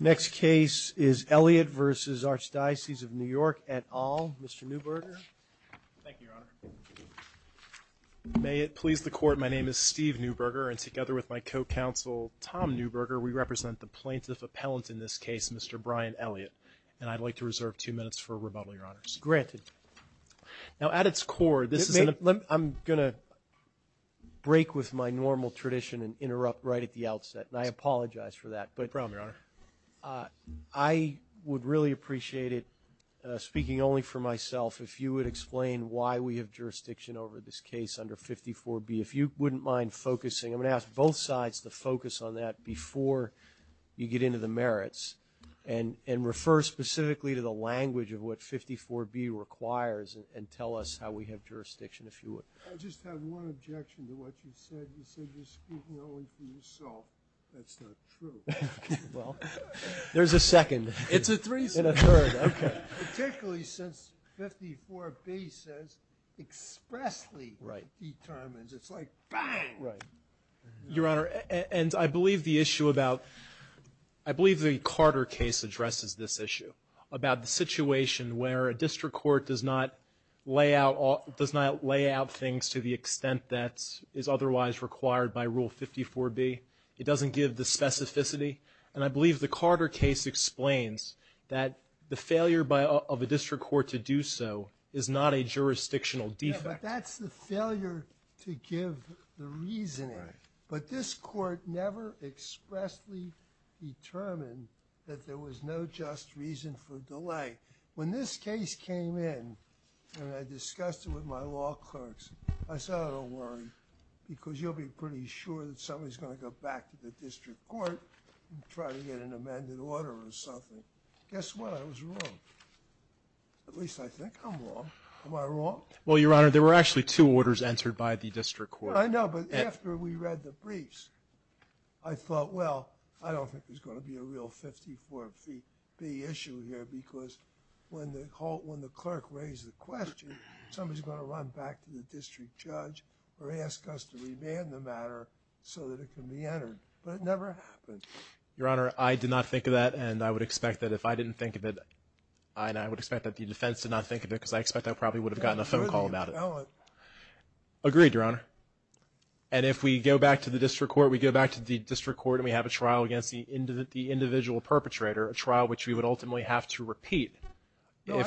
Next case is Elliott v. Archdiocese of NYEt Al. Mr. Neuberger. Thank you, Your Honor. May it please the Court, my name is Steve Neuberger, and together with my co-counsel Tom Neuberger, we represent the plaintiff appellant in this case, Mr. Brian Elliott. And I'd like to reserve two minutes for rebuttal, Your Honors. Granted. Now, at its core, this is an – No problem, Your Honor. I just have one objection to what you said. You said you're speaking only for yourself. That's not true. Well, there's a second. It's a threesome. And a third, okay. Particularly since 54B says expressly determines. It's like, bang! Right. Your Honor, and I believe the issue about – I believe the Carter case addresses this issue, about the situation where a district court does not lay out things to the extent that is otherwise required by Rule 54B. It doesn't give the specificity. And I believe the Carter case explains that the failure of a district court to do so is not a jurisdictional defect. Yeah, but that's the failure to give the reasoning. Right. But this court never expressly determined that there was no just reason for delay. When this case came in and I discussed it with my law clerks, I said, I don't worry because you'll be pretty sure that somebody's going to go back to the district court and try to get an amended order or something. Guess what? I was wrong. At least I think I'm wrong. Am I wrong? Well, Your Honor, there were actually two orders entered by the district court. I know, but after we read the briefs, I thought, well, I don't think there's going to be a real 54B issue here because when the clerk raised the question, somebody's going to run back to the district judge or ask us to remand the matter so that it can be entered. But it never happened. Your Honor, I did not think of that, and I would expect that if I didn't think of it, I would expect that the defense did not think of it because I expect I probably would have gotten a phone call about it. Agreed, Your Honor. And if we go back to the district court, we go back to the district court and we have a trial against the individual perpetrator, a trial which we would ultimately have to repeat. No,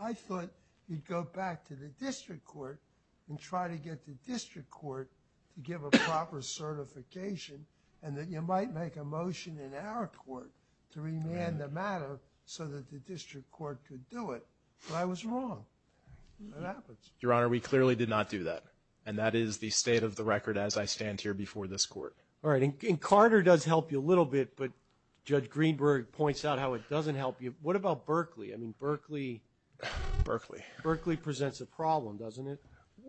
I thought you'd go back to the district court and try to get the district court to give a proper certification and that you might make a motion in our court to remand the matter so that the district court could do it. But I was wrong. It happens. Your Honor, we clearly did not do that, and that is the state of the record as I stand here before this court. All right. And Carter does help you a little bit, but Judge Greenberg points out how it doesn't help you. What about Berkeley? I mean, Berkeley presents a problem, doesn't it?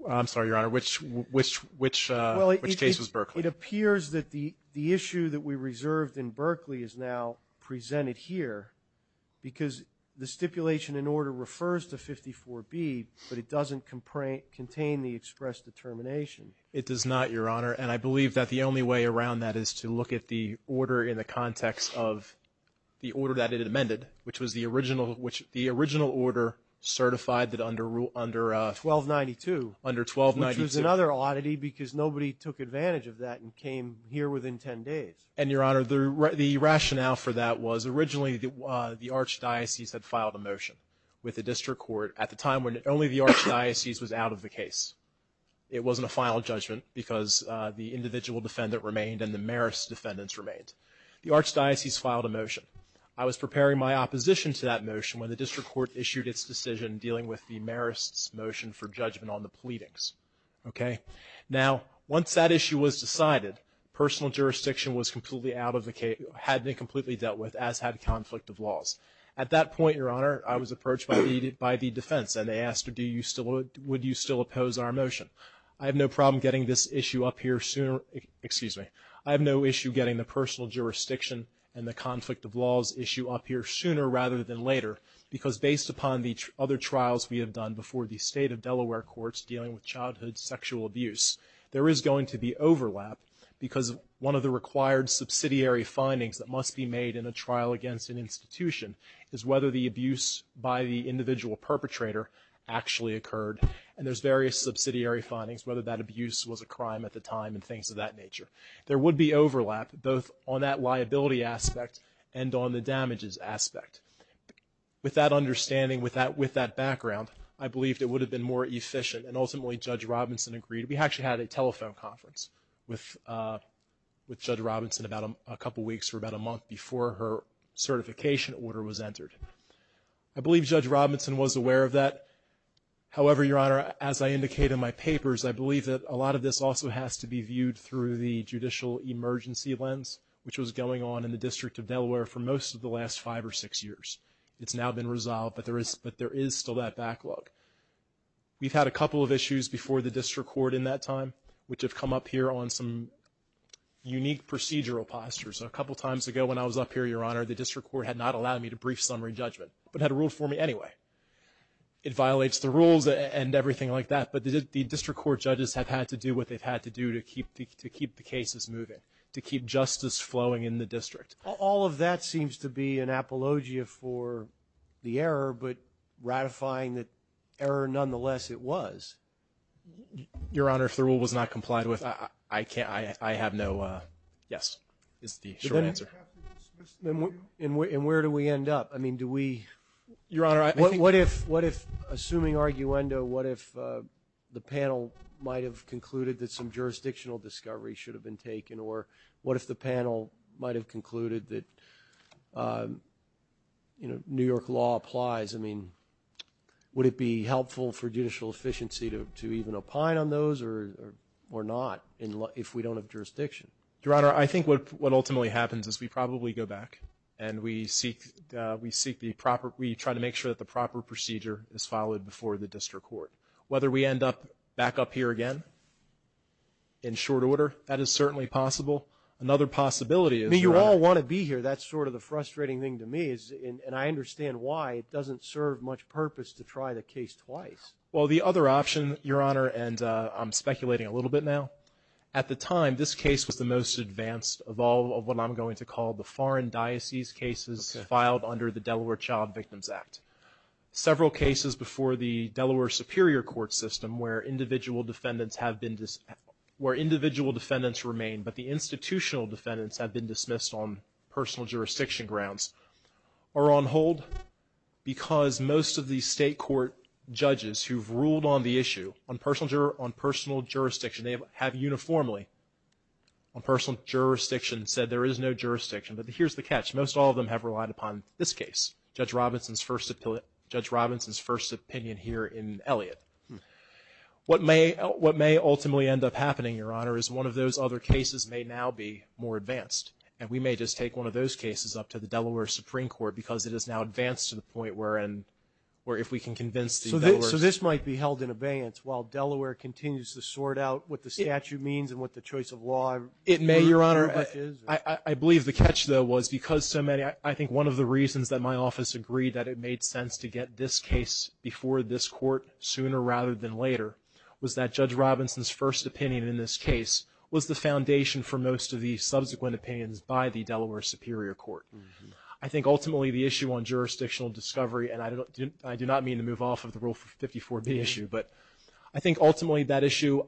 I'm sorry, Your Honor. Which case was Berkeley? It appears that the issue that we reserved in Berkeley is now presented here because the stipulation in order refers to 54B, but it doesn't contain the express determination. It does not, Your Honor, and I believe that the only way around that is to look at the order in the context of the order that it amended, which was the original order certified under 1292, which was another oddity because nobody took advantage of that and came here within 10 days. And, Your Honor, the rationale for that was originally the archdiocese had filed a motion with the district court at the time when only the archdiocese was out of the case. It wasn't a final judgment because the individual defendant remained and the Marist defendants remained. The archdiocese filed a motion. I was preparing my opposition to that motion when the district court issued its decision dealing with the Marist's motion for judgment on the pleadings, okay? Now, once that issue was decided, personal jurisdiction was completely out of the case, had been completely dealt with, as had conflict of laws. At that point, Your Honor, I was approached by the defense and they asked, would you still oppose our motion? I have no problem getting this issue up here sooner, excuse me, I have no issue getting the personal jurisdiction and the conflict of laws issue up here sooner rather than later because based upon the other trials we have done before the state of Delaware courts dealing with childhood sexual abuse, there is going to be overlap because one of the required subsidiary findings that must be made in a trial against an institution is whether the abuse by the individual perpetrator actually occurred. And there's various subsidiary findings, whether that abuse was a crime at the time and things of that nature. There would be overlap both on that liability aspect and on the damages aspect. With that understanding, with that background, I believe it would have been more efficient and ultimately Judge Robinson agreed. We actually had a telephone conference with Judge Robinson about a couple weeks or about a month before her certification order was entered. I believe Judge Robinson was aware of that. However, Your Honor, as I indicate in my papers, I believe that a lot of this also has to be viewed through the judicial emergency lens, which was going on in the District of Delaware for most of the last five or six years. It's now been resolved, but there is still that backlog. We've had a couple of issues before the District Court in that time, which have come up here on some unique procedural postures. A couple times ago when I was up here, Your Honor, the District Court had not allowed me to brief summary judgment but had ruled for me anyway. It violates the rules and everything like that, but the District Court judges have had to do what they've had to do to keep the cases moving, to keep justice flowing in the district. All of that seems to be an apologia for the error, but ratifying the error nonetheless it was. Your Honor, if the rule was not complied with, I have no yes is the short answer. And where do we end up? I mean, do we – Your Honor, I think – What if, assuming arguendo, what if the panel might have concluded that some jurisdictional discovery should have been taken or what if the panel might have concluded that New York law applies? I mean, would it be helpful for judicial efficiency to even opine on those or not if we don't have jurisdiction? Your Honor, I think what ultimately happens is we probably go back and we try to make sure that the proper procedure is followed before the District Court. Whether we end up back up here again in short order, that is certainly possible. Another possibility is – I mean, you all want to be here. That's sort of the frustrating thing to me, and I understand why it doesn't serve much purpose to try the case twice. Well, the other option, Your Honor, and I'm speculating a little bit now, at the time this case was the most advanced of all of what I'm going to call the foreign diocese cases filed under the Delaware Child Victims Act. Several cases before the Delaware Superior Court system where individual defendants have been – where individual defendants remain but the institutional defendants have been dismissed on personal jurisdiction grounds are on hold because most of the state court judges who've ruled on the issue, on personal jurisdiction, they have uniformly, on personal jurisdiction, said there is no jurisdiction. But here's the catch. Most all of them have relied upon this case, Judge Robinson's first – Judge Robinson's first opinion here in Elliott. What may ultimately end up happening, Your Honor, is one of those other cases may now be more advanced, and we may just take one of those cases up to the Delaware Supreme Court because it is now advanced to the point where if we can convince the Delaware – So this might be held in abeyance while Delaware continues to sort out It may, Your Honor. I believe the catch, though, was because so many – I think one of the reasons that my office agreed that it made sense to get this case before this court sooner rather than later was that Judge Robinson's first opinion in this case was the foundation for most of the subsequent opinions by the Delaware Superior Court. I think ultimately the issue on jurisdictional discovery, and I do not mean to move off of the Rule 54B issue, but I think ultimately that issue,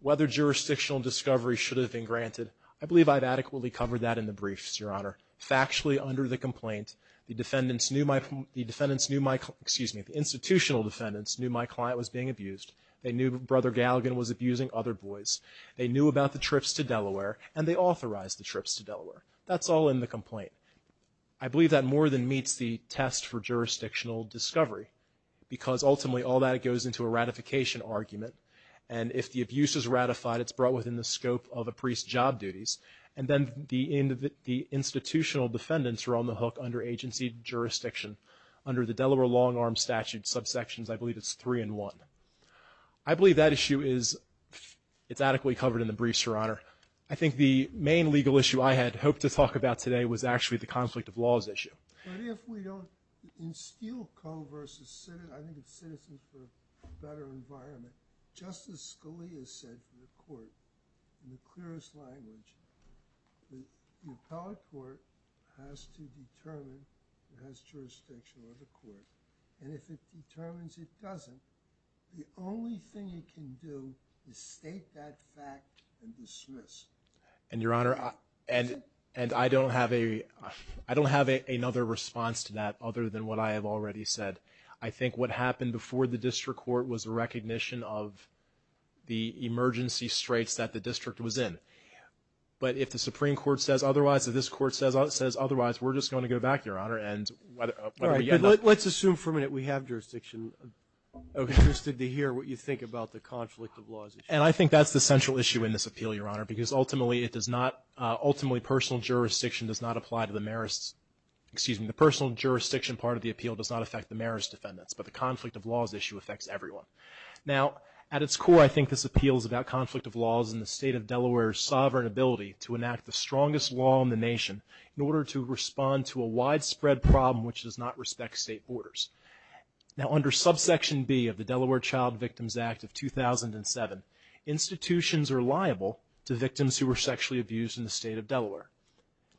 whether jurisdictional discovery should have been granted, I believe I've adequately covered that in the briefs, Your Honor. Factually under the complaint, the defendants knew my – the defendants knew my – excuse me, the institutional defendants knew my client was being abused. They knew Brother Galligan was abusing other boys. They knew about the trips to Delaware, and they authorized the trips to Delaware. That's all in the complaint. I believe that more than meets the test for jurisdictional discovery because ultimately all that goes into a ratification argument, and if the abuse is ratified, it's brought within the scope of a priest's job duties, and then the institutional defendants are on the hook under agency jurisdiction under the Delaware long-arm statute subsections, I believe it's three and one. I believe that issue is – it's adequately covered in the briefs, Your Honor. I think the main legal issue I had hoped to talk about today was actually the conflict of laws issue. But if we don't – in Steele Co. versus – I think it's Citizens for a Better Environment, Justice Scalia said to the court in the clearest language that the appellate court has to determine if it has jurisdiction over the court, and if it determines it doesn't, the only thing it can do is state that fact and dismiss. And, Your Honor, and I don't have a – I don't have another response to that other than what I have already said. I think what happened before the district court was a recognition of the emergency straits that the district was in. But if the Supreme Court says otherwise, if this court says otherwise, we're just going to go back, Your Honor, and whether we get enough – All right. Let's assume for a minute we have jurisdiction. I'm interested to hear what you think about the conflict of laws issue. And I think that's the central issue in this appeal, Your Honor, because ultimately it does not – ultimately personal jurisdiction does not apply to the Marist – excuse me, the personal jurisdiction part of the appeal does not affect the Marist defendants, but the conflict of laws issue affects everyone. Now, at its core, I think this appeal is about conflict of laws and the state of Delaware's sovereign ability to enact the strongest law in the nation in order to respond to a widespread problem which does not respect state borders. Now, under subsection B of the Delaware Child Victims Act of 2007, institutions are liable to victims who were sexually abused in the state of Delaware.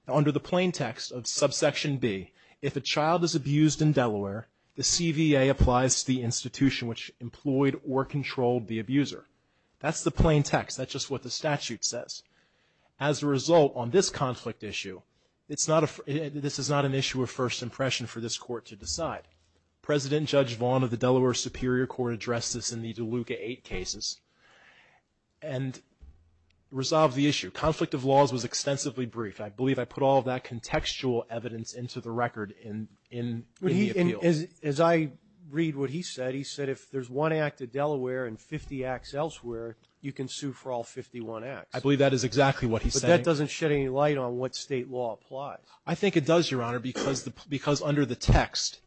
Now, under the plain text of subsection B, if a child is abused in Delaware, the CVA applies to the institution which employed or controlled the abuser. That's the plain text. That's just what the statute says. As a result, on this conflict issue, this is not an issue of first impression for this court to decide. President Judge Vaughn of the Delaware Superior Court addressed this in the DeLuca 8 cases and resolved the issue. Conflict of laws was extensively briefed. I believe I put all of that contextual evidence into the record in the appeal. As I read what he said, he said if there's one act of Delaware and 50 acts elsewhere, you can sue for all 51 acts. I believe that is exactly what he's saying. But that doesn't shed any light on what state law applies. I think it does, Your Honor, because under the text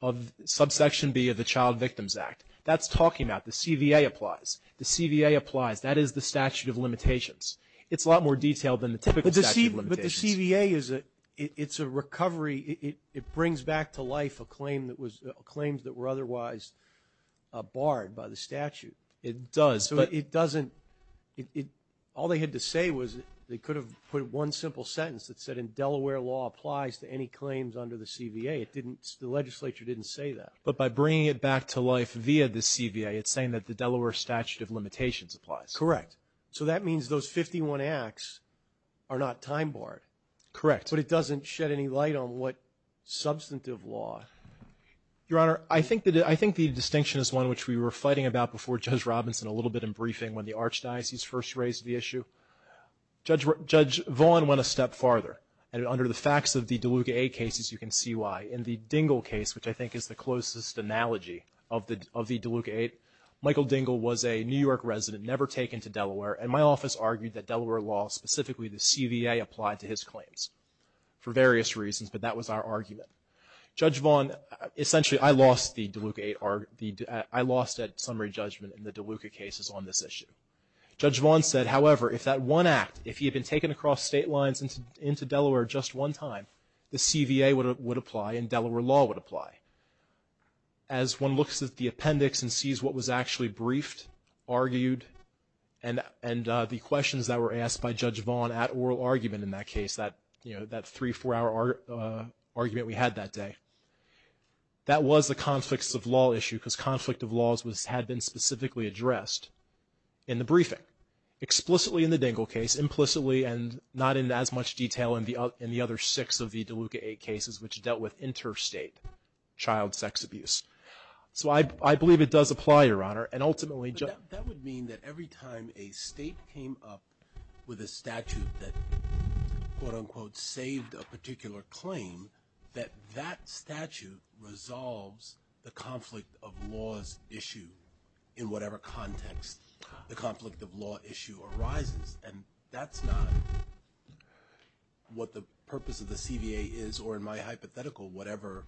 of subsection B of the Child Victims Act, that's talking about the CVA applies. The CVA applies. That is the statute of limitations. It's a lot more detailed than the typical statute of limitations. But the CVA is a recovery. It brings back to life a claim that was – claims that were otherwise barred by the statute. It does. All they had to say was they could have put one simple sentence that said in Delaware law applies to any claims under the CVA. The legislature didn't say that. But by bringing it back to life via the CVA, it's saying that the Delaware statute of limitations applies. Correct. So that means those 51 acts are not time barred. Correct. But it doesn't shed any light on what substantive law. Your Honor, I think the distinction is one which we were fighting about before Judge Robinson a little bit in briefing when the Archdiocese first raised the issue. Judge Vaughn went a step farther. And under the facts of the DeLuca 8 cases, you can see why. In the Dingell case, which I think is the closest analogy of the DeLuca 8, Michael Dingell was a New York resident, never taken to Delaware, and my office argued that Delaware law, specifically the CVA, applied to his claims for various reasons, but that was our argument. Judge Vaughn, essentially I lost the DeLuca 8, I lost that summary judgment in the DeLuca cases on this issue. Judge Vaughn said, however, if that one act, if he had been taken across state lines into Delaware just one time, the CVA would apply and Delaware law would apply. As one looks at the appendix and sees what was actually briefed, argued, and the questions that were asked by Judge Vaughn at oral argument in that case, that three-, four-hour argument we had that day, that was the conflicts of law issue because conflict of laws had been specifically addressed in the briefing, explicitly in the Dingell case, implicitly and not in as much detail in the other six of the DeLuca 8 cases, which dealt with interstate child sex abuse. So I believe it does apply, Your Honor. But that would mean that every time a state came up with a statute that, quote, unquote, saved a particular claim, that that statute resolves the conflict of laws issue in whatever context the conflict of law issue arises. And that's not what the purpose of the CVA is, or in my hypothetical, whatever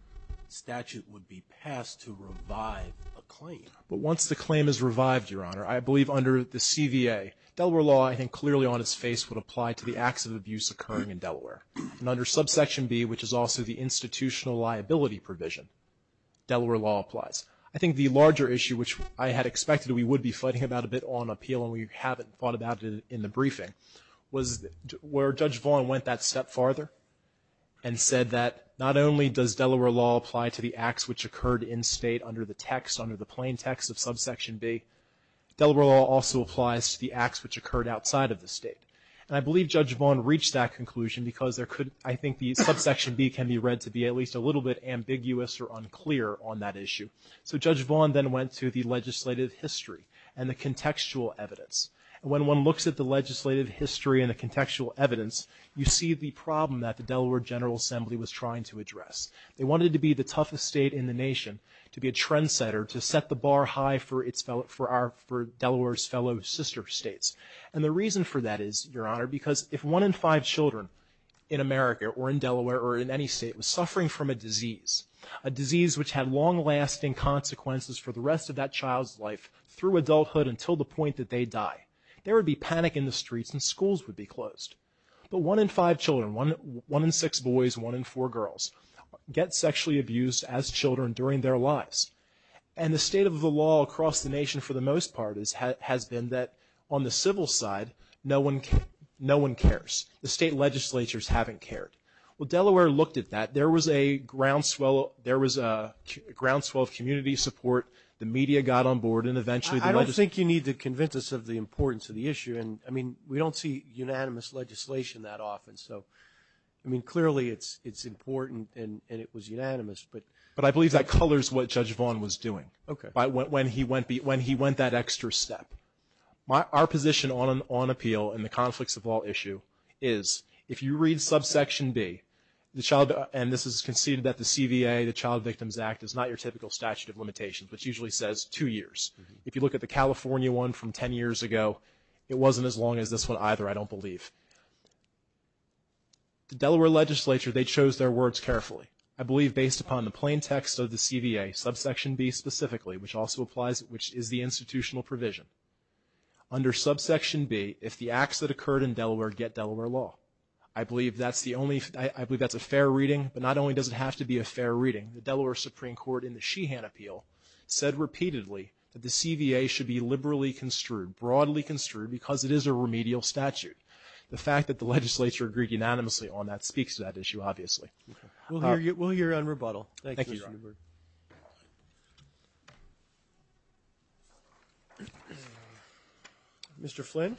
statute would be passed to revive a claim. But once the claim is revived, Your Honor, I believe under the CVA, Delaware law I think clearly on its face would apply to the acts of abuse occurring in Delaware. And under subsection B, which is also the institutional liability provision, Delaware law applies. I think the larger issue, which I had expected we would be fighting about a bit on appeal and we haven't thought about it in the briefing, was where Judge Vaughn went that step farther and said that not only does Delaware law apply to the acts which occurred in state under the text, under the plain text of subsection B, Delaware law also applies to the acts which occurred outside of the state. And I believe Judge Vaughn reached that conclusion because there could, I think, the subsection B can be read to be at least a little bit ambiguous or unclear on that issue. So Judge Vaughn then went to the legislative history and the contextual evidence. And when one looks at the legislative history and the contextual evidence, you see the problem that the Delaware General Assembly was trying to address. They wanted to be the toughest state in the nation, to be a trendsetter, to set the bar high for Delaware's fellow sister states. And the reason for that is, Your Honor, because if one in five children in America or in Delaware or in any state was suffering from a disease, a disease which had long-lasting consequences for the rest of that child's life through adulthood until the point that they die, there would be panic in the streets and schools would be closed. But one in five children, one in six boys, one in four girls, get sexually abused as children during their lives. And the state of the law across the nation, for the most part, has been that on the civil side, no one cares. The state legislatures haven't cared. Well, Delaware looked at that. There was a groundswell of community support. The media got on board. I don't think you need to convince us of the importance of the issue. I mean, we don't see unanimous legislation that often. So, I mean, clearly it's important and it was unanimous. But I believe that colors what Judge Vaughn was doing. Okay. When he went that extra step. Our position on appeal and the conflicts of law issue is, if you read subsection B, and this is conceded that the CVA, the Child Victims Act, is not your typical statute of limitations, which usually says two years. If you look at the California one from 10 years ago, it wasn't as long as this one either, I don't believe. The Delaware legislature, they chose their words carefully. I believe based upon the plain text of the CVA, subsection B specifically, which also applies, which is the institutional provision. Under subsection B, if the acts that occurred in Delaware get Delaware law, I believe that's the only, I believe that's a fair reading, but not only does it have to be a fair reading, the Delaware Supreme Court in the Sheehan Appeal said repeatedly, that the CVA should be liberally construed, broadly construed, because it is a remedial statute. The fact that the legislature agreed unanimously on that speaks to that issue, obviously. We'll hear you, we'll hear you on rebuttal. Thank you, Your Honor. Mr. Flynn.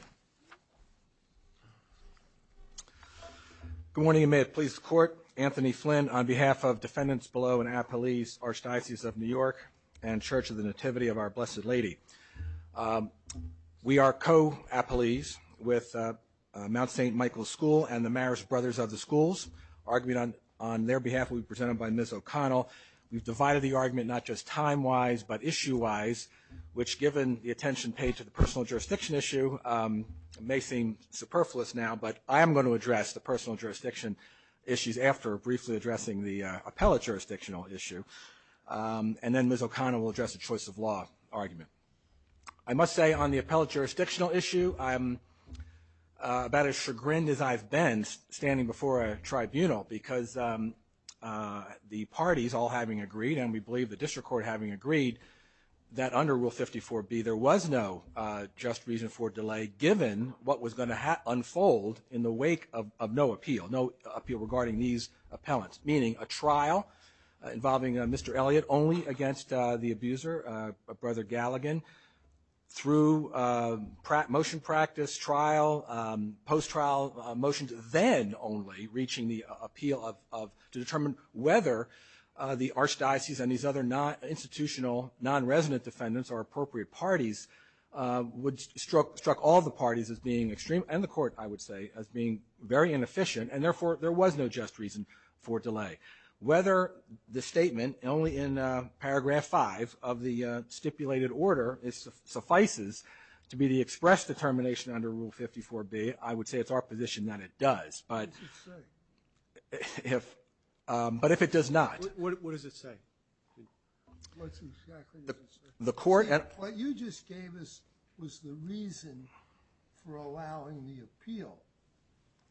Good morning, and may it please the Court, Anthony Flynn on behalf of Defendants Below and Appellees, Archdiocese of New York, and Church of the Nativity of Our Blessed Lady. We are co-appellees with Mount St. Michael School and the Marist Brothers of the Schools. Our argument on their behalf will be presented by Ms. O'Connell. We've divided the argument not just time-wise, but issue-wise, which given the attention paid to the personal jurisdiction issue, may seem superfluous now, but I am going to address the personal jurisdiction issues after briefly addressing the appellate jurisdictional issue, and then Ms. O'Connell will address the choice of law argument. I must say on the appellate jurisdictional issue, I'm about as chagrined as I've been standing before a tribunal because the parties all having agreed, and we believe the district court having agreed, that under Rule 54B there was no just reason for delay given what was going to unfold in the wake of no appeal, no appeal regarding these appellants, meaning a trial involving Mr. Elliott only against the abuser, Brother Galligan, through motion practice, trial, post-trial motions, then only reaching the appeal to determine whether the archdiocese and these other non-institutional, non-resident defendants or appropriate parties would struck all the parties as being extreme, and the court, I would say, as being very inefficient, and therefore there was no just reason for delay. Whether the statement only in Paragraph 5 of the stipulated order suffices to be the express determination under Rule 54B, I would say it's our position that it does, but if it does not. What does it say? What's exactly it says? What you just gave us was the reason for allowing the appeal,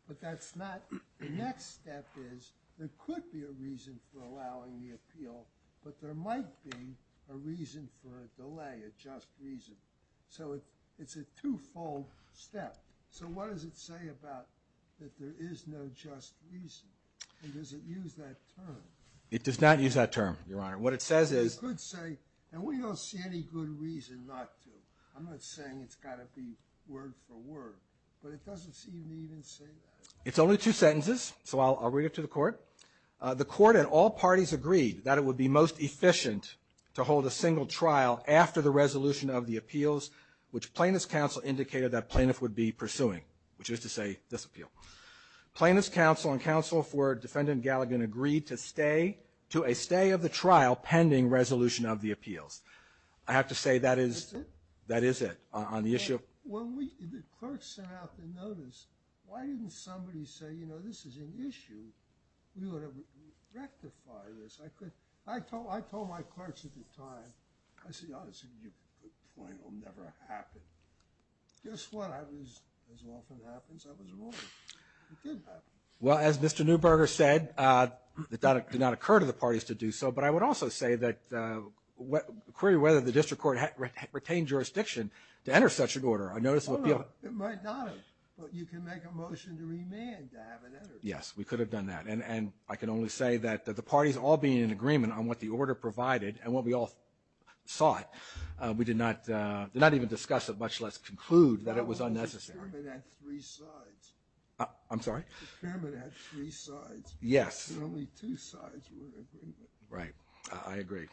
but that's not. The next step is there could be a reason for allowing the appeal, but there might be a reason for a delay, a just reason. So it's a two-fold step. So what does it say about that there is no just reason? And does it use that term? It does not use that term, Your Honor. What it says is... And we don't see any good reason not to. I'm not saying it's got to be word for word, but it doesn't seem to even say that. It's only two sentences, so I'll read it to the court. The court and all parties agreed that it would be most efficient to hold a single trial after the resolution of the appeals, which plaintiff's counsel indicated that plaintiff would be pursuing, which is to say, this appeal. Plaintiff's counsel and counsel for Defendant Galligan agreed to a stay of the trial pending resolution of the appeals. I have to say that is it on the issue. Well, the clerk sent out the notice. Why didn't somebody say, you know, this is an issue? We ought to rectify this. I told my clerks at the time, I said, honestly, you put the point, it'll never happen. Guess what? As often happens, I was wrong. It did happen. Well, as Mr. Neuberger said, that did not occur to the parties to do so, but I would also say that query whether the district court retained jurisdiction to enter such an order. It might not have, but you can make a motion to remand to have it entered. Yes, we could have done that. And I can only say that the parties all being in agreement on what the order provided and what we all saw, we did not even discuss it, much less conclude that it was unnecessary. The experiment had three sides. I'm sorry? The experiment had three sides. Yes. And only two sides were in agreement. Right. I agree.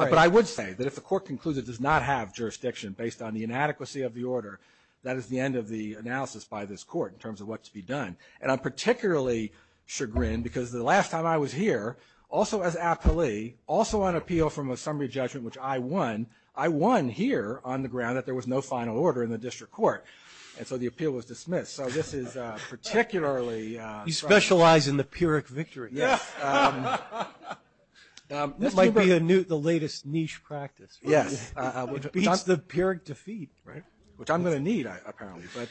But I would say that if the court concludes it does not have jurisdiction based on the inadequacy of the order, that is the end of the analysis by this court in terms of what to be done. And I'm particularly chagrined because the last time I was here, also as appellee, also on appeal from a summary judgment, which I won, I won here on the ground that there was no final order in the district court. And so the appeal was dismissed. So this is particularly... You specialize in the Pyrrhic victory. Yes. This might be the latest niche practice. Yes. It beats the Pyrrhic defeat, right? Which I'm going to need, apparently. But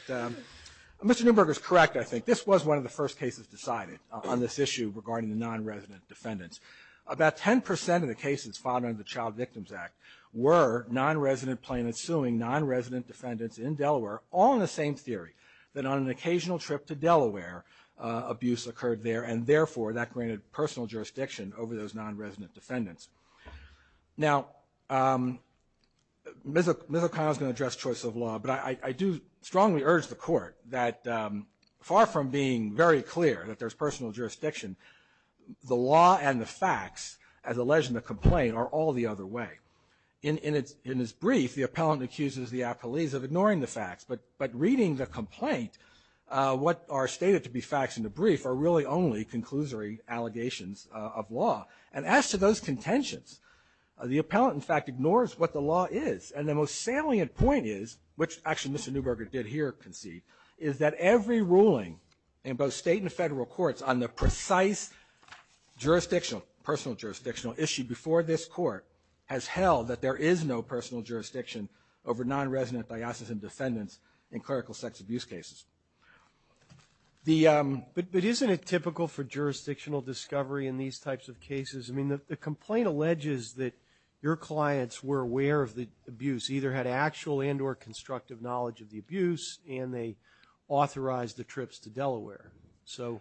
Mr. Neuberger is correct, I think. This was one of the first cases decided on this issue regarding the non-resident defendants. About 10% of the cases filed under the Child Victims Act were non-resident plaintiffs suing non-resident defendants in Delaware, all in the same theory, that on an occasional trip to Delaware, abuse occurred there, and therefore, that granted personal jurisdiction over those non-resident defendants. Now, Ms. O'Connell is going to address choice of law, but I do strongly urge the court that far from being very clear that there's personal jurisdiction, the law and the facts, as alleged in the complaint, are all the other way. In its brief, the appellant accuses the appellees of ignoring the facts, but reading the complaint, what are stated to be facts in the brief are really only conclusory allegations of law. And as to those contentions, the appellant, in fact, ignores what the law is. And the most salient point is, which actually Mr. Neuberger did here concede, is that every ruling in both state and federal courts on the precise jurisdictional, personal jurisdictional issue before this court has held that there is no personal jurisdiction over non-resident diocesan defendants in clerical sex abuse cases. But isn't it typical for jurisdictional discovery in these types of cases? I mean, the complaint alleges that your clients were aware of the abuse, either had actual and or constructive knowledge of the abuse, and they authorized the trips to Delaware. So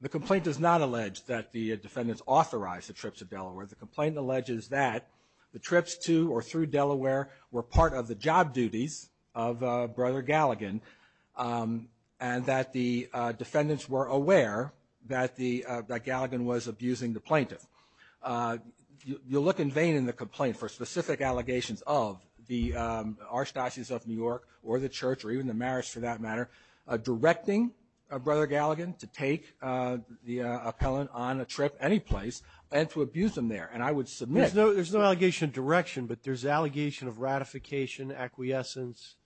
the complaint does not allege that the defendants authorized the trips to Delaware. The complaint alleges that the trips to or through Delaware were part of the job duties of Brother Galligan, and that the defendants were aware that Galligan was abusing the plaintiff. You look in vain in the complaint for specific allegations of the Archdiocese of New York or the church or even the marriage for that matter, directing Brother Galligan to take the appellant on a trip anyplace and to abuse them there. And I would submit... There's no allegation of direction, but there's allegation of ratification, acquiescence.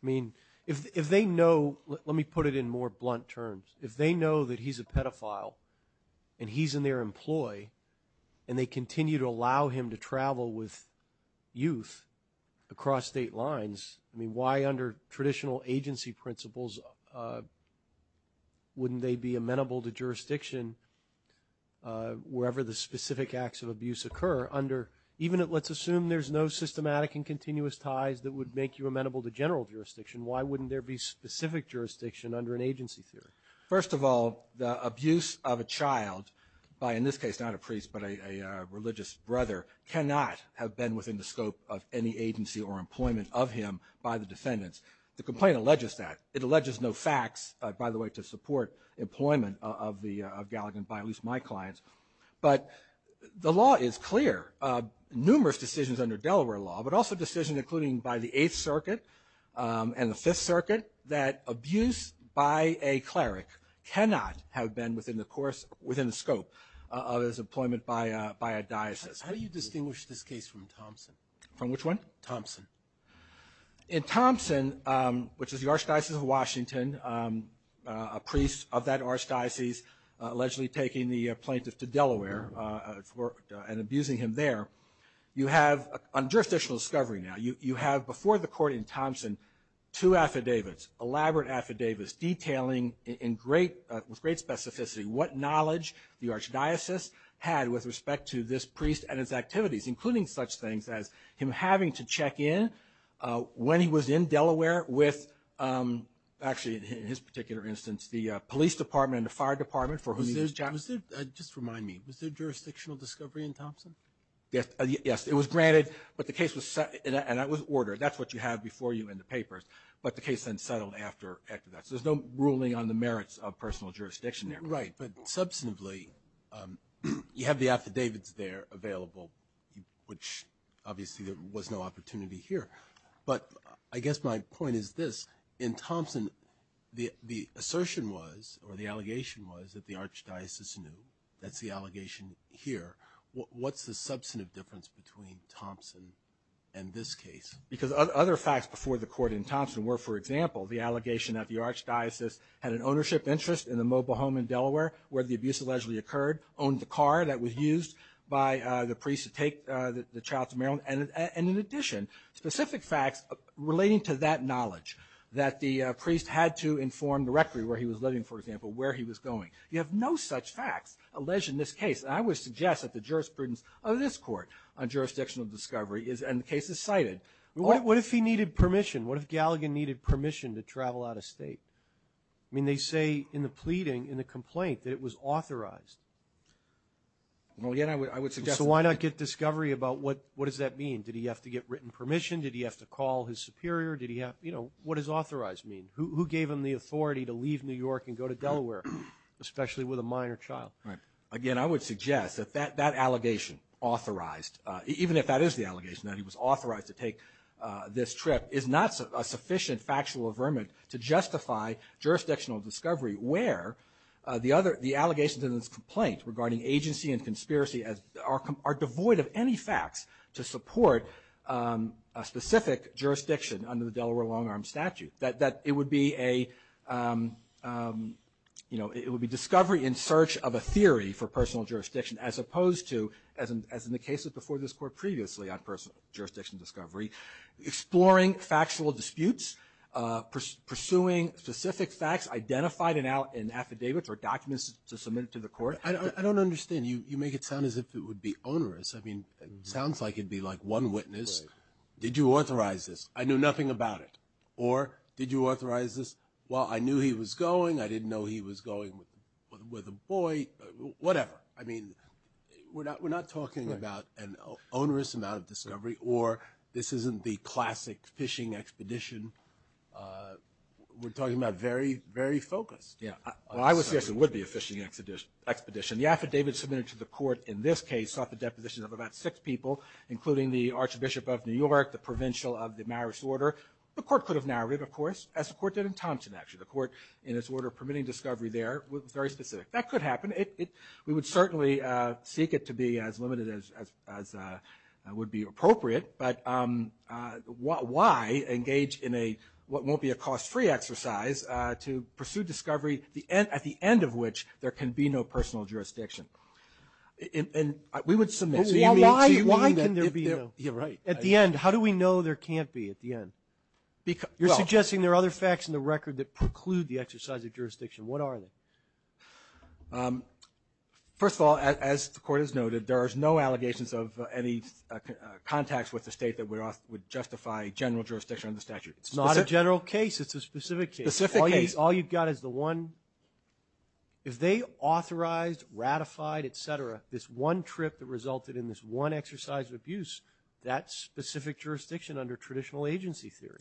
I mean, if they know, let me put it in more blunt terms. If they know that he's a pedophile and he's in their employ, and they continue to allow him to travel with youth across state lines, I mean, why under traditional agency principles wouldn't they be amenable to jurisdiction wherever the specific acts of abuse occur under... Let's assume there's no systematic and continuous ties that would make you amenable to general jurisdiction. Why wouldn't there be specific jurisdiction under an agency theory? First of all, the abuse of a child by, in this case, not a priest, but a religious brother, cannot have been within the scope of any agency or employment of him by the defendants. The complaint alleges that. It alleges no facts, by the way, to support employment of Galligan by at least my clients. But the law is clear. Numerous decisions under Delaware law, but also decisions including by the Eighth Circuit and the Fifth Circuit, that abuse by a cleric cannot have been within the scope of his employment by a diocese. How do you distinguish this case from Thompson? From which one? Thompson. In Thompson, which is the Archdiocese of Washington, a priest of that archdiocese allegedly taking the plaintiff to Delaware and abusing him there, you have a jurisdictional discovery now. You have before the court in Thompson two affidavits, elaborate affidavits, detailing with great specificity what knowledge the archdiocese had with respect to this priest and his activities, including such things as him having to check in when he was in Delaware with, actually in his particular instance, the police department and the fire department for whom he was charged. Just remind me, was there jurisdictional discovery in Thompson? Yes, it was granted, and that was ordered. That's what you have before you in the papers, but the case then settled after that. So there's no ruling on the merits of personal jurisdiction there. Right, but substantively, you have the affidavits there available, which obviously there was no opportunity here, but I guess my point is this. In Thompson, the assertion was, or the allegation was, that the archdiocese knew. That's the allegation here. What's the substantive difference between Thompson and this case? Because other facts before the court in Thompson were, for example, the allegation that the archdiocese had an ownership interest in the mobile home in Delaware where the abuse allegedly occurred, owned the car that was used by the priest to take the child to Maryland, and in addition, specific facts relating to that knowledge that the priest had to inform directly where he was living, for example, where he was going. You have no such facts alleged in this case. I would suggest that the jurisprudence of this court on jurisdictional discovery is, and the case is cited. What if he needed permission? What if Galligan needed permission to travel out of state? I mean, they say in the pleading, in the complaint, that it was authorized. Well, again, I would suggest... So why not get discovery about what does that mean? Did he have to get written permission? Did he have to call his superior? What does authorized mean? Who gave him the authority to leave New York and go to Delaware, especially with a minor child? Right. Again, I would suggest that that allegation, authorized, even if that is the allegation, that he was authorized to take this trip, is not a sufficient factual affirmant to justify jurisdictional discovery where the allegations in this complaint regarding agency and conspiracy are devoid of any facts to support a specific jurisdiction under the Delaware long-arm statute. That it would be a... You know, it would be discovery in search of a theory for personal jurisdiction as opposed to, as in the cases before this Court previously, on personal jurisdiction discovery, exploring factual disputes, pursuing specific facts identified in affidavits or documents to submit to the Court. I don't understand. You make it sound as if it would be onerous. I mean, it sounds like it'd be like one witness. Right. Did you authorize this? I knew nothing about it. Or did you authorize this? Well, I knew he was going. I didn't know he was going with a boy. Whatever. I mean, we're not talking about an onerous amount of discovery or this isn't the classic fishing expedition. We're talking about very, very focused. Yeah. Well, I would suggest it would be a fishing expedition. The affidavit submitted to the Court, in this case, sought the deposition of about six people, including the Archbishop of New York, the Provincial of the Marist Order. The Court could have narrowed it, of course, as the Court did in Thompson, actually. The Court, in its order permitting discovery there, was very specific. That could happen. We would certainly seek it to be as limited as would be appropriate. But why engage in what won't be a cost-free exercise to pursue discovery at the end of which there can be no personal jurisdiction? And we would submit. Why can there be no? Yeah, right. At the end, how do we know there can't be at the end? You're suggesting there are other facts in the record that preclude the exercise of jurisdiction. What are they? First of all, as the Court has noted, there is no allegations of any contacts with the state that would justify general jurisdiction under statute. It's not a general case. It's a specific case. Specific case. All you've got is the one. If they authorized, ratified, et cetera, this one trip that resulted in this one exercise of abuse, that's specific jurisdiction under traditional agency theory.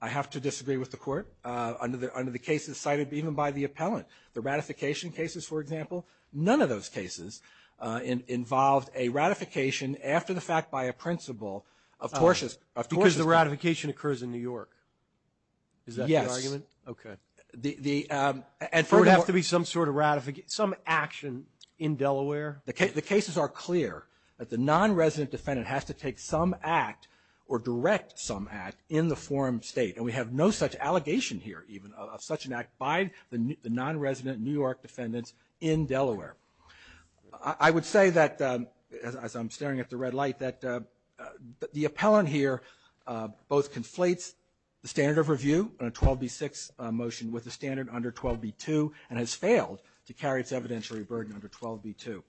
I have to disagree with the Court under the cases cited even by the appellant. The ratification cases, for example, none of those cases involved a ratification after the fact by a principle of tortiousness. Because the ratification occurs in New York. Is that the argument? Yes. Okay. There would have to be some sort of ratification, some action in Delaware? The cases are clear. The non-resident defendant has to take some act or direct some act in the forum state. And we have no such allegation here even of such an act by the non-resident New York defendants in Delaware. I would say that, as I'm staring at the red light, that the appellant here both conflates the standard of review on a 12b-6 motion with the standard under 12b-2 and has failed to carry its evidentiary burden under 12b-2.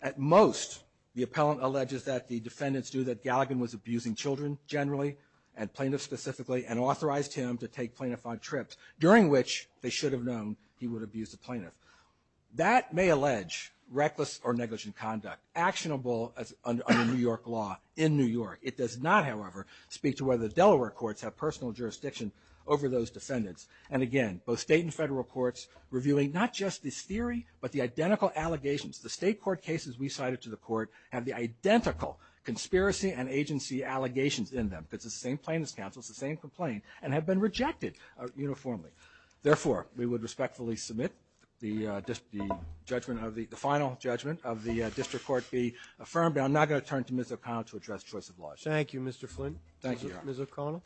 At most, the appellant alleges that the defendants knew that Galligan was abusing children generally and plaintiffs specifically and authorized him to take plaintiffs on trips during which they should have known he would abuse the plaintiff. That may allege reckless or negligent conduct, actionable under New York law in New York. It does not, however, speak to whether Delaware courts have personal jurisdiction over those defendants. And again, both state and federal courts reviewing not just this theory but the identical allegations. The state court cases we cited to the court have the identical conspiracy and agency allegations in them because it's the same plaintiffs' counsel, it's the same complaint, and have been rejected uniformly. Therefore, we would respectfully submit the final judgment of the district court be affirmed. And I'm now going to turn to Ms. O'Connell to address choice of law. Thank you, Mr. Flynn. Thank you, Your Honor. Ms. O'Connell.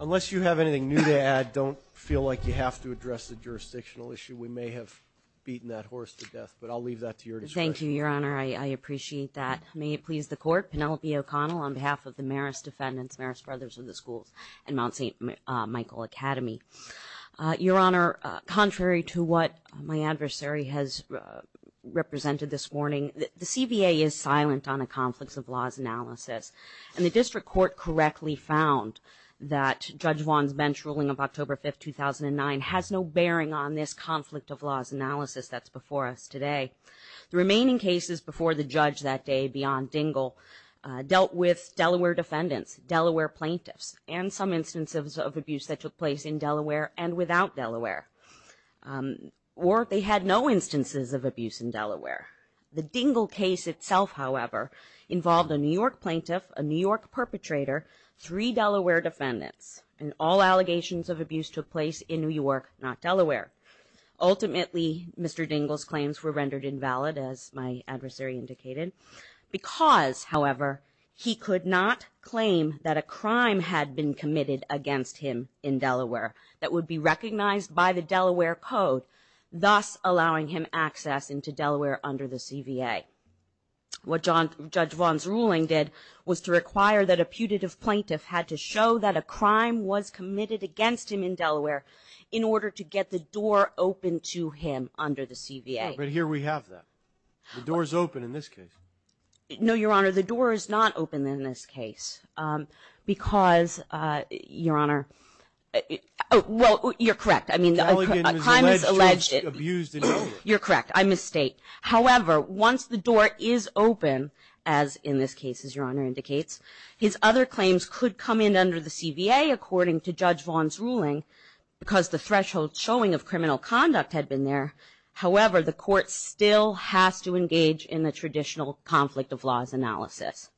Unless you have anything new to add, I don't feel like you have to address the jurisdictional issue. We may have beaten that horse to death, but I'll leave that to your discretion. Thank you, Your Honor. I appreciate that. May it please the Court, Penelope O'Connell on behalf of the Marist defendants, Marist Brothers of the Schools and Mount St. Michael Academy. Your Honor, contrary to what my adversary has represented this morning, the CBA is silent on a conflicts of laws analysis. And the district court correctly found that Judge Vaughn's bench ruling of October 5, 2009 has no bearing on this conflict of laws analysis that's before us today. The remaining cases before the judge that day beyond Dingell dealt with Delaware defendants, Delaware plaintiffs, and some instances of abuse that took place in Delaware and without Delaware. Or they had no instances of abuse in Delaware. The Dingell case itself, however, involved a New York plaintiff, a New York perpetrator, three Delaware defendants, and all allegations of abuse took place in New York, not Delaware. Ultimately, Mr. Dingell's claims were rendered invalid, as my adversary indicated, because, however, he could not claim that a crime had been committed against him in Delaware that would be recognized by the Delaware Code, thus allowing him access into Delaware under the CBA. What Judge Vaughn's ruling did was to require that a putative plaintiff had to show that a crime was committed against him in Delaware in order to get the door open to him under the CBA. But here we have that. The door's open in this case. No, Your Honor, the door is not open in this case, because, Your Honor... Well, you're correct. I mean, a crime is alleged... You're correct. I mistake. However, once the door is open, as in this case, as Your Honor indicates, his other claims could come in under the CBA, according to Judge Vaughn's ruling, because the threshold showing of criminal conduct had been there. However, the court still has to engage in the traditional conflict of laws analysis.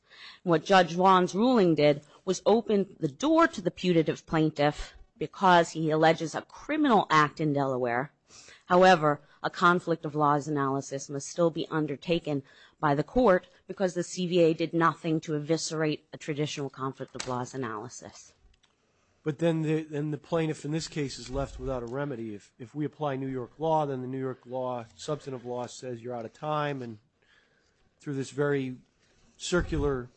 What Judge Vaughn's ruling did was open the door to the putative plaintiff because he alleges a criminal act in Delaware. However, a conflict of laws analysis must still be undertaken by the court because the CBA did nothing to eviscerate a traditional conflict of laws analysis. But then the plaintiff in this case is left without a remedy. If we apply New York law, then the New York law, substantive law, says you're out of time, and through this very circular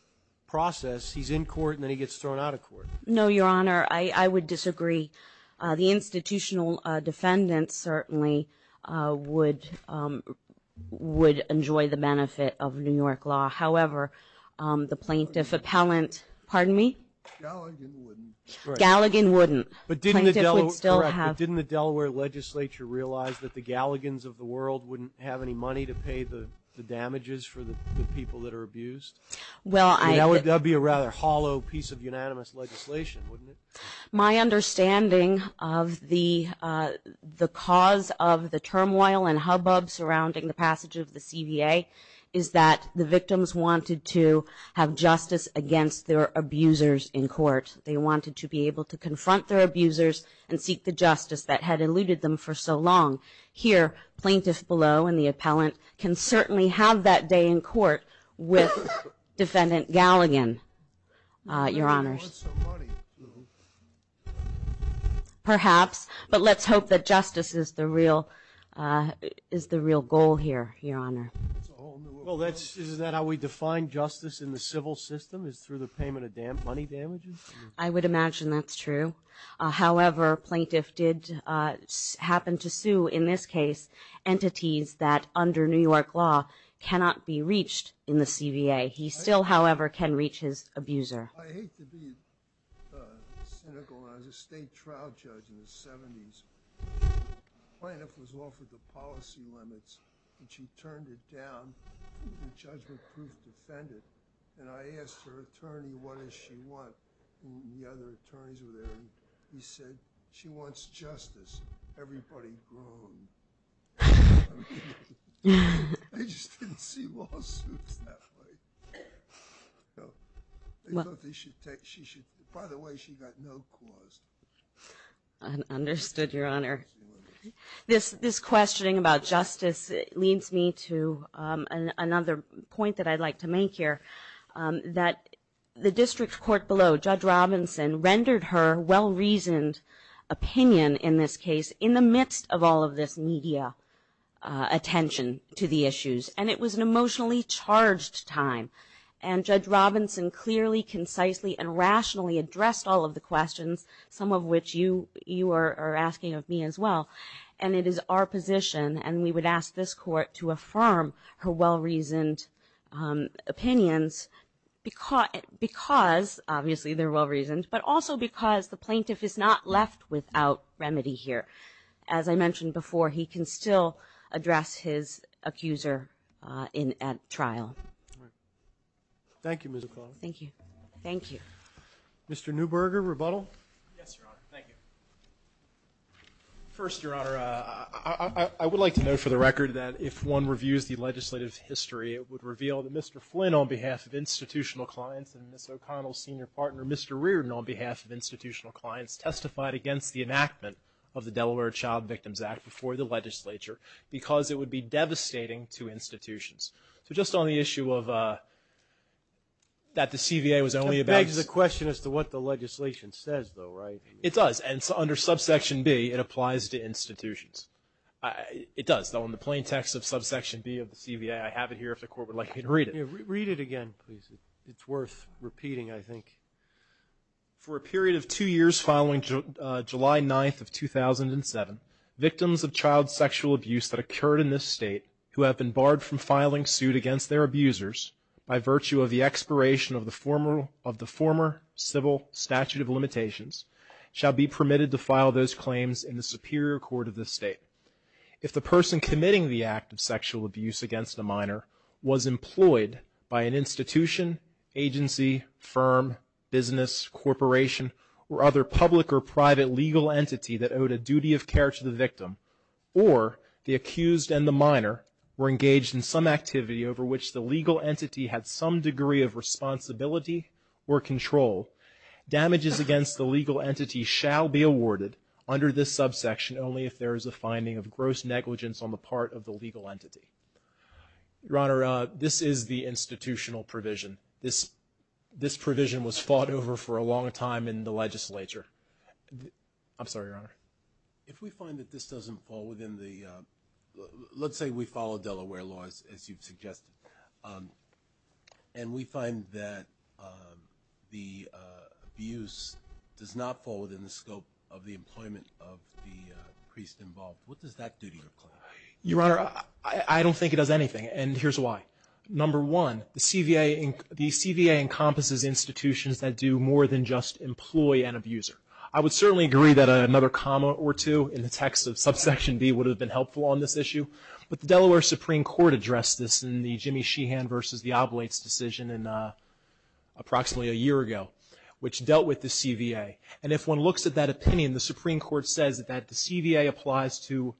process, he's in court, and then he gets thrown out of court. No, Your Honor, I would disagree. The institutional defendants certainly would... would enjoy the benefit of New York law. However, the plaintiff appellant... Pardon me? Galligan wouldn't. Galligan wouldn't. But didn't the Delaware legislature realize that the Galligans of the world wouldn't have any money to pay the damages for the people that are abused? Well, I... That would be a rather hollow piece of unanimous legislation, wouldn't it? My understanding of the cause of the turmoil and hubbub surrounding the passage of the CVA is that the victims wanted to have justice against their abusers in court. They wanted to be able to confront their abusers and seek the justice that had eluded them for so long. Here, plaintiff below and the appellant can certainly have that day in court with Defendant Galligan, Your Honors. They want some money. Perhaps, but let's hope that justice is the real goal here, Your Honor. Well, is that how we define justice in the civil system, is through the payment of money damages? I would imagine that's true. However, plaintiff did happen to sue, in this case, entities that under New York law cannot be reached in the CVA. He still, however, can reach his abuser. I hate to be cynical, but when I was a state trial judge in the 70s, the plaintiff was offered the policy limits and she turned it down. The judge would prove defendant. And I asked her attorney, what does she want? The other attorneys were there. He said, she wants justice. Everybody groaned. I just didn't see lawsuits that way. By the way, she got no cause. Understood, Your Honor. This questioning about justice leads me to another point that I'd like to make here, that the district court below, Judge Robinson, rendered her well-reasoned opinion in this case in the midst of all of this media attention to the issues. And it was an emotionally charged time. And Judge Robinson clearly, concisely, and rationally addressed all of the questions, some of which you are asking of me as well. And it is our position, and we would ask this court to affirm her well-reasoned opinions because, obviously, they're well-reasoned, but also because the plaintiff is not left without remedy here. As I mentioned before, he can still address his accuser at trial. Thank you, Ms. O'Connell. Thank you. Thank you. Mr. Neuberger, rebuttal? Yes, Your Honor. Thank you. First, Your Honor, I would like to note for the record that if one reviews the legislative history, it would reveal that Mr. Flynn, on behalf of institutional clients and Ms. O'Connell's senior partner, Mr. Reardon, on behalf of institutional clients, testified against the enactment of the Delaware Child Victims Act before the legislature because it would be devastating to institutions. So just on the issue of that the CVA was only about... It begs the question as to what the legislation says, though, right? It does. And under subsection B, it applies to institutions. It does, though, in the plain text of subsection B of the CVA. I have it here if the court would like me to read it. Read it again, please. It's worth repeating, I think. For a period of two years following July 9th of 2007, victims of child sexual abuse that occurred in this state who have been barred from filing suit against their abusers by virtue of the expiration of the former civil statute of limitations shall be permitted to file those claims in the superior court of this state. If the person committing the act of sexual abuse against a minor was employed by an institution, agency, firm, business, corporation, or other public or private legal entity that owed a duty of care to the victim or the accused and the minor were engaged in some activity over which the legal entity had some degree of responsibility or control, damages against the legal entity shall be awarded under this subsection only if there is a finding of gross negligence on the part of the legal entity. Your Honor, this is the institutional provision. This provision was fought over for a long time in the legislature. I'm sorry, Your Honor. If we find that this doesn't fall within the, let's say we follow Delaware laws as you've suggested, and we find that the abuse does not fall within the scope of the employment of the priest involved, what does that do to your claim? Your Honor, I don't think it does anything, and here's why. Number one, the CVA encompasses institutions that do more than just employ an abuser. I would certainly agree that another comma or two in the text of subsection B would have been helpful on this issue, but the Delaware Supreme Court addressed this in the Jimmy Sheehan versus the Oblates decision approximately a year ago, which dealt with the CVA. And if one looks at that opinion, the Supreme Court says that the CVA applies to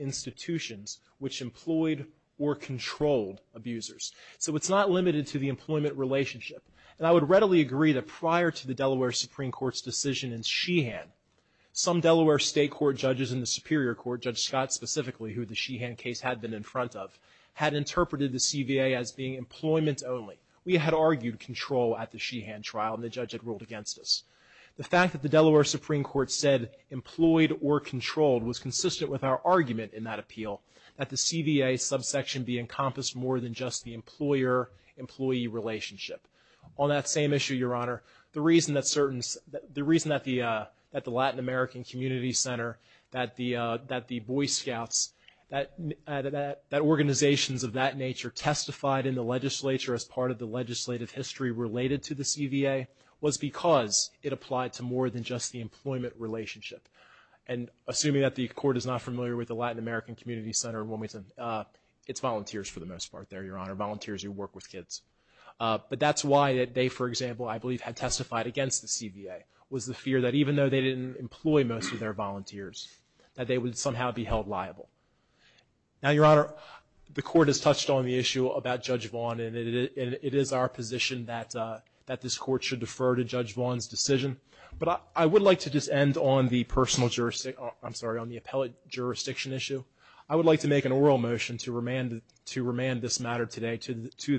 institutions which employed or controlled abusers. So it's not limited to the employment relationship. And I would readily agree that prior to the Delaware Supreme Court's decision in Sheehan, some Delaware state court judges in the Superior Court, Judge Scott specifically, who the Sheehan case had been in front of, had interpreted the CVA as being employment only. We had argued control at the Sheehan trial, and the judge had ruled against us. The fact that the Delaware Supreme Court said employed or controlled was consistent with our argument in that appeal, that the CVA subsection B encompassed more than just the employer-employee relationship. On that same issue, Your Honor, the reason that the Latin American Community Center, that the Boy Scouts, that organizations of that nature testified in the legislature as part of the legislative history related to the CVA was because it applied to more than just the employment relationship. And assuming that the Court is not familiar with the Latin American Community Center in Wilmington, it's volunteers for the most part there, Your Honor, volunteers who work with kids. But that's why they, for example, I believe had testified against the CVA, was the fear that even though they didn't employ most of their volunteers, that they would somehow be held liable. Now, Your Honor, the Court has touched on the issue about Judge Vaughn, and it is our position that this Court should defer to Judge Vaughn's decision. But I would like to just end on the personal jurisdiction, I'm sorry, on the appellate jurisdiction issue. I would like to make an oral motion to remand this matter today to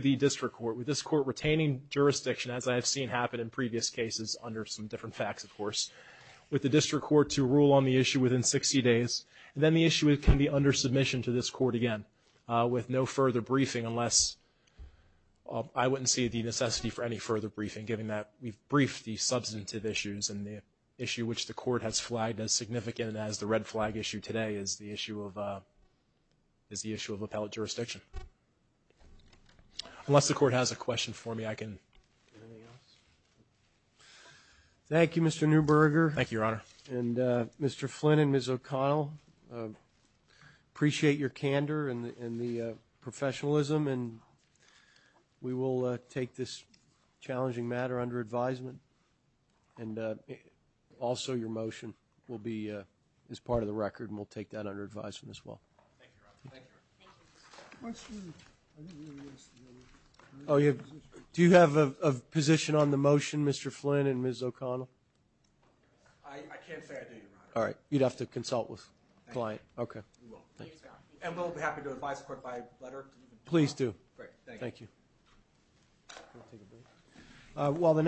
the district court, with this court retaining jurisdiction as I have seen happen in previous cases under some different facts, of course, with the district court to rule on the issue within 60 days. And then the issue can be under submission to this court again with no further briefing unless, I wouldn't see the necessity for any further briefing, given that we've briefed the substantive issues, and the issue which the Court has flagged as significant as the red flag issue today is the issue of appellate jurisdiction. Unless the Court has a question for me, I can. Thank you, Your Honor. And Mr. Flynn and Ms. O'Connell, appreciate your candor and the professionalism, and we will take this challenging matter under advisement. And also your motion will be as part of the record, and we'll take that under advisement as well. Thank you, Your Honor. Do you have a position on the motion, Mr. Flynn and Ms. O'Connell? I can't say I do, Your Honor. All right. You'd have to consult with the client. Okay. We will. And we'll be happy to advise the Court by letter. Please do. Great. Thank you. Thank you.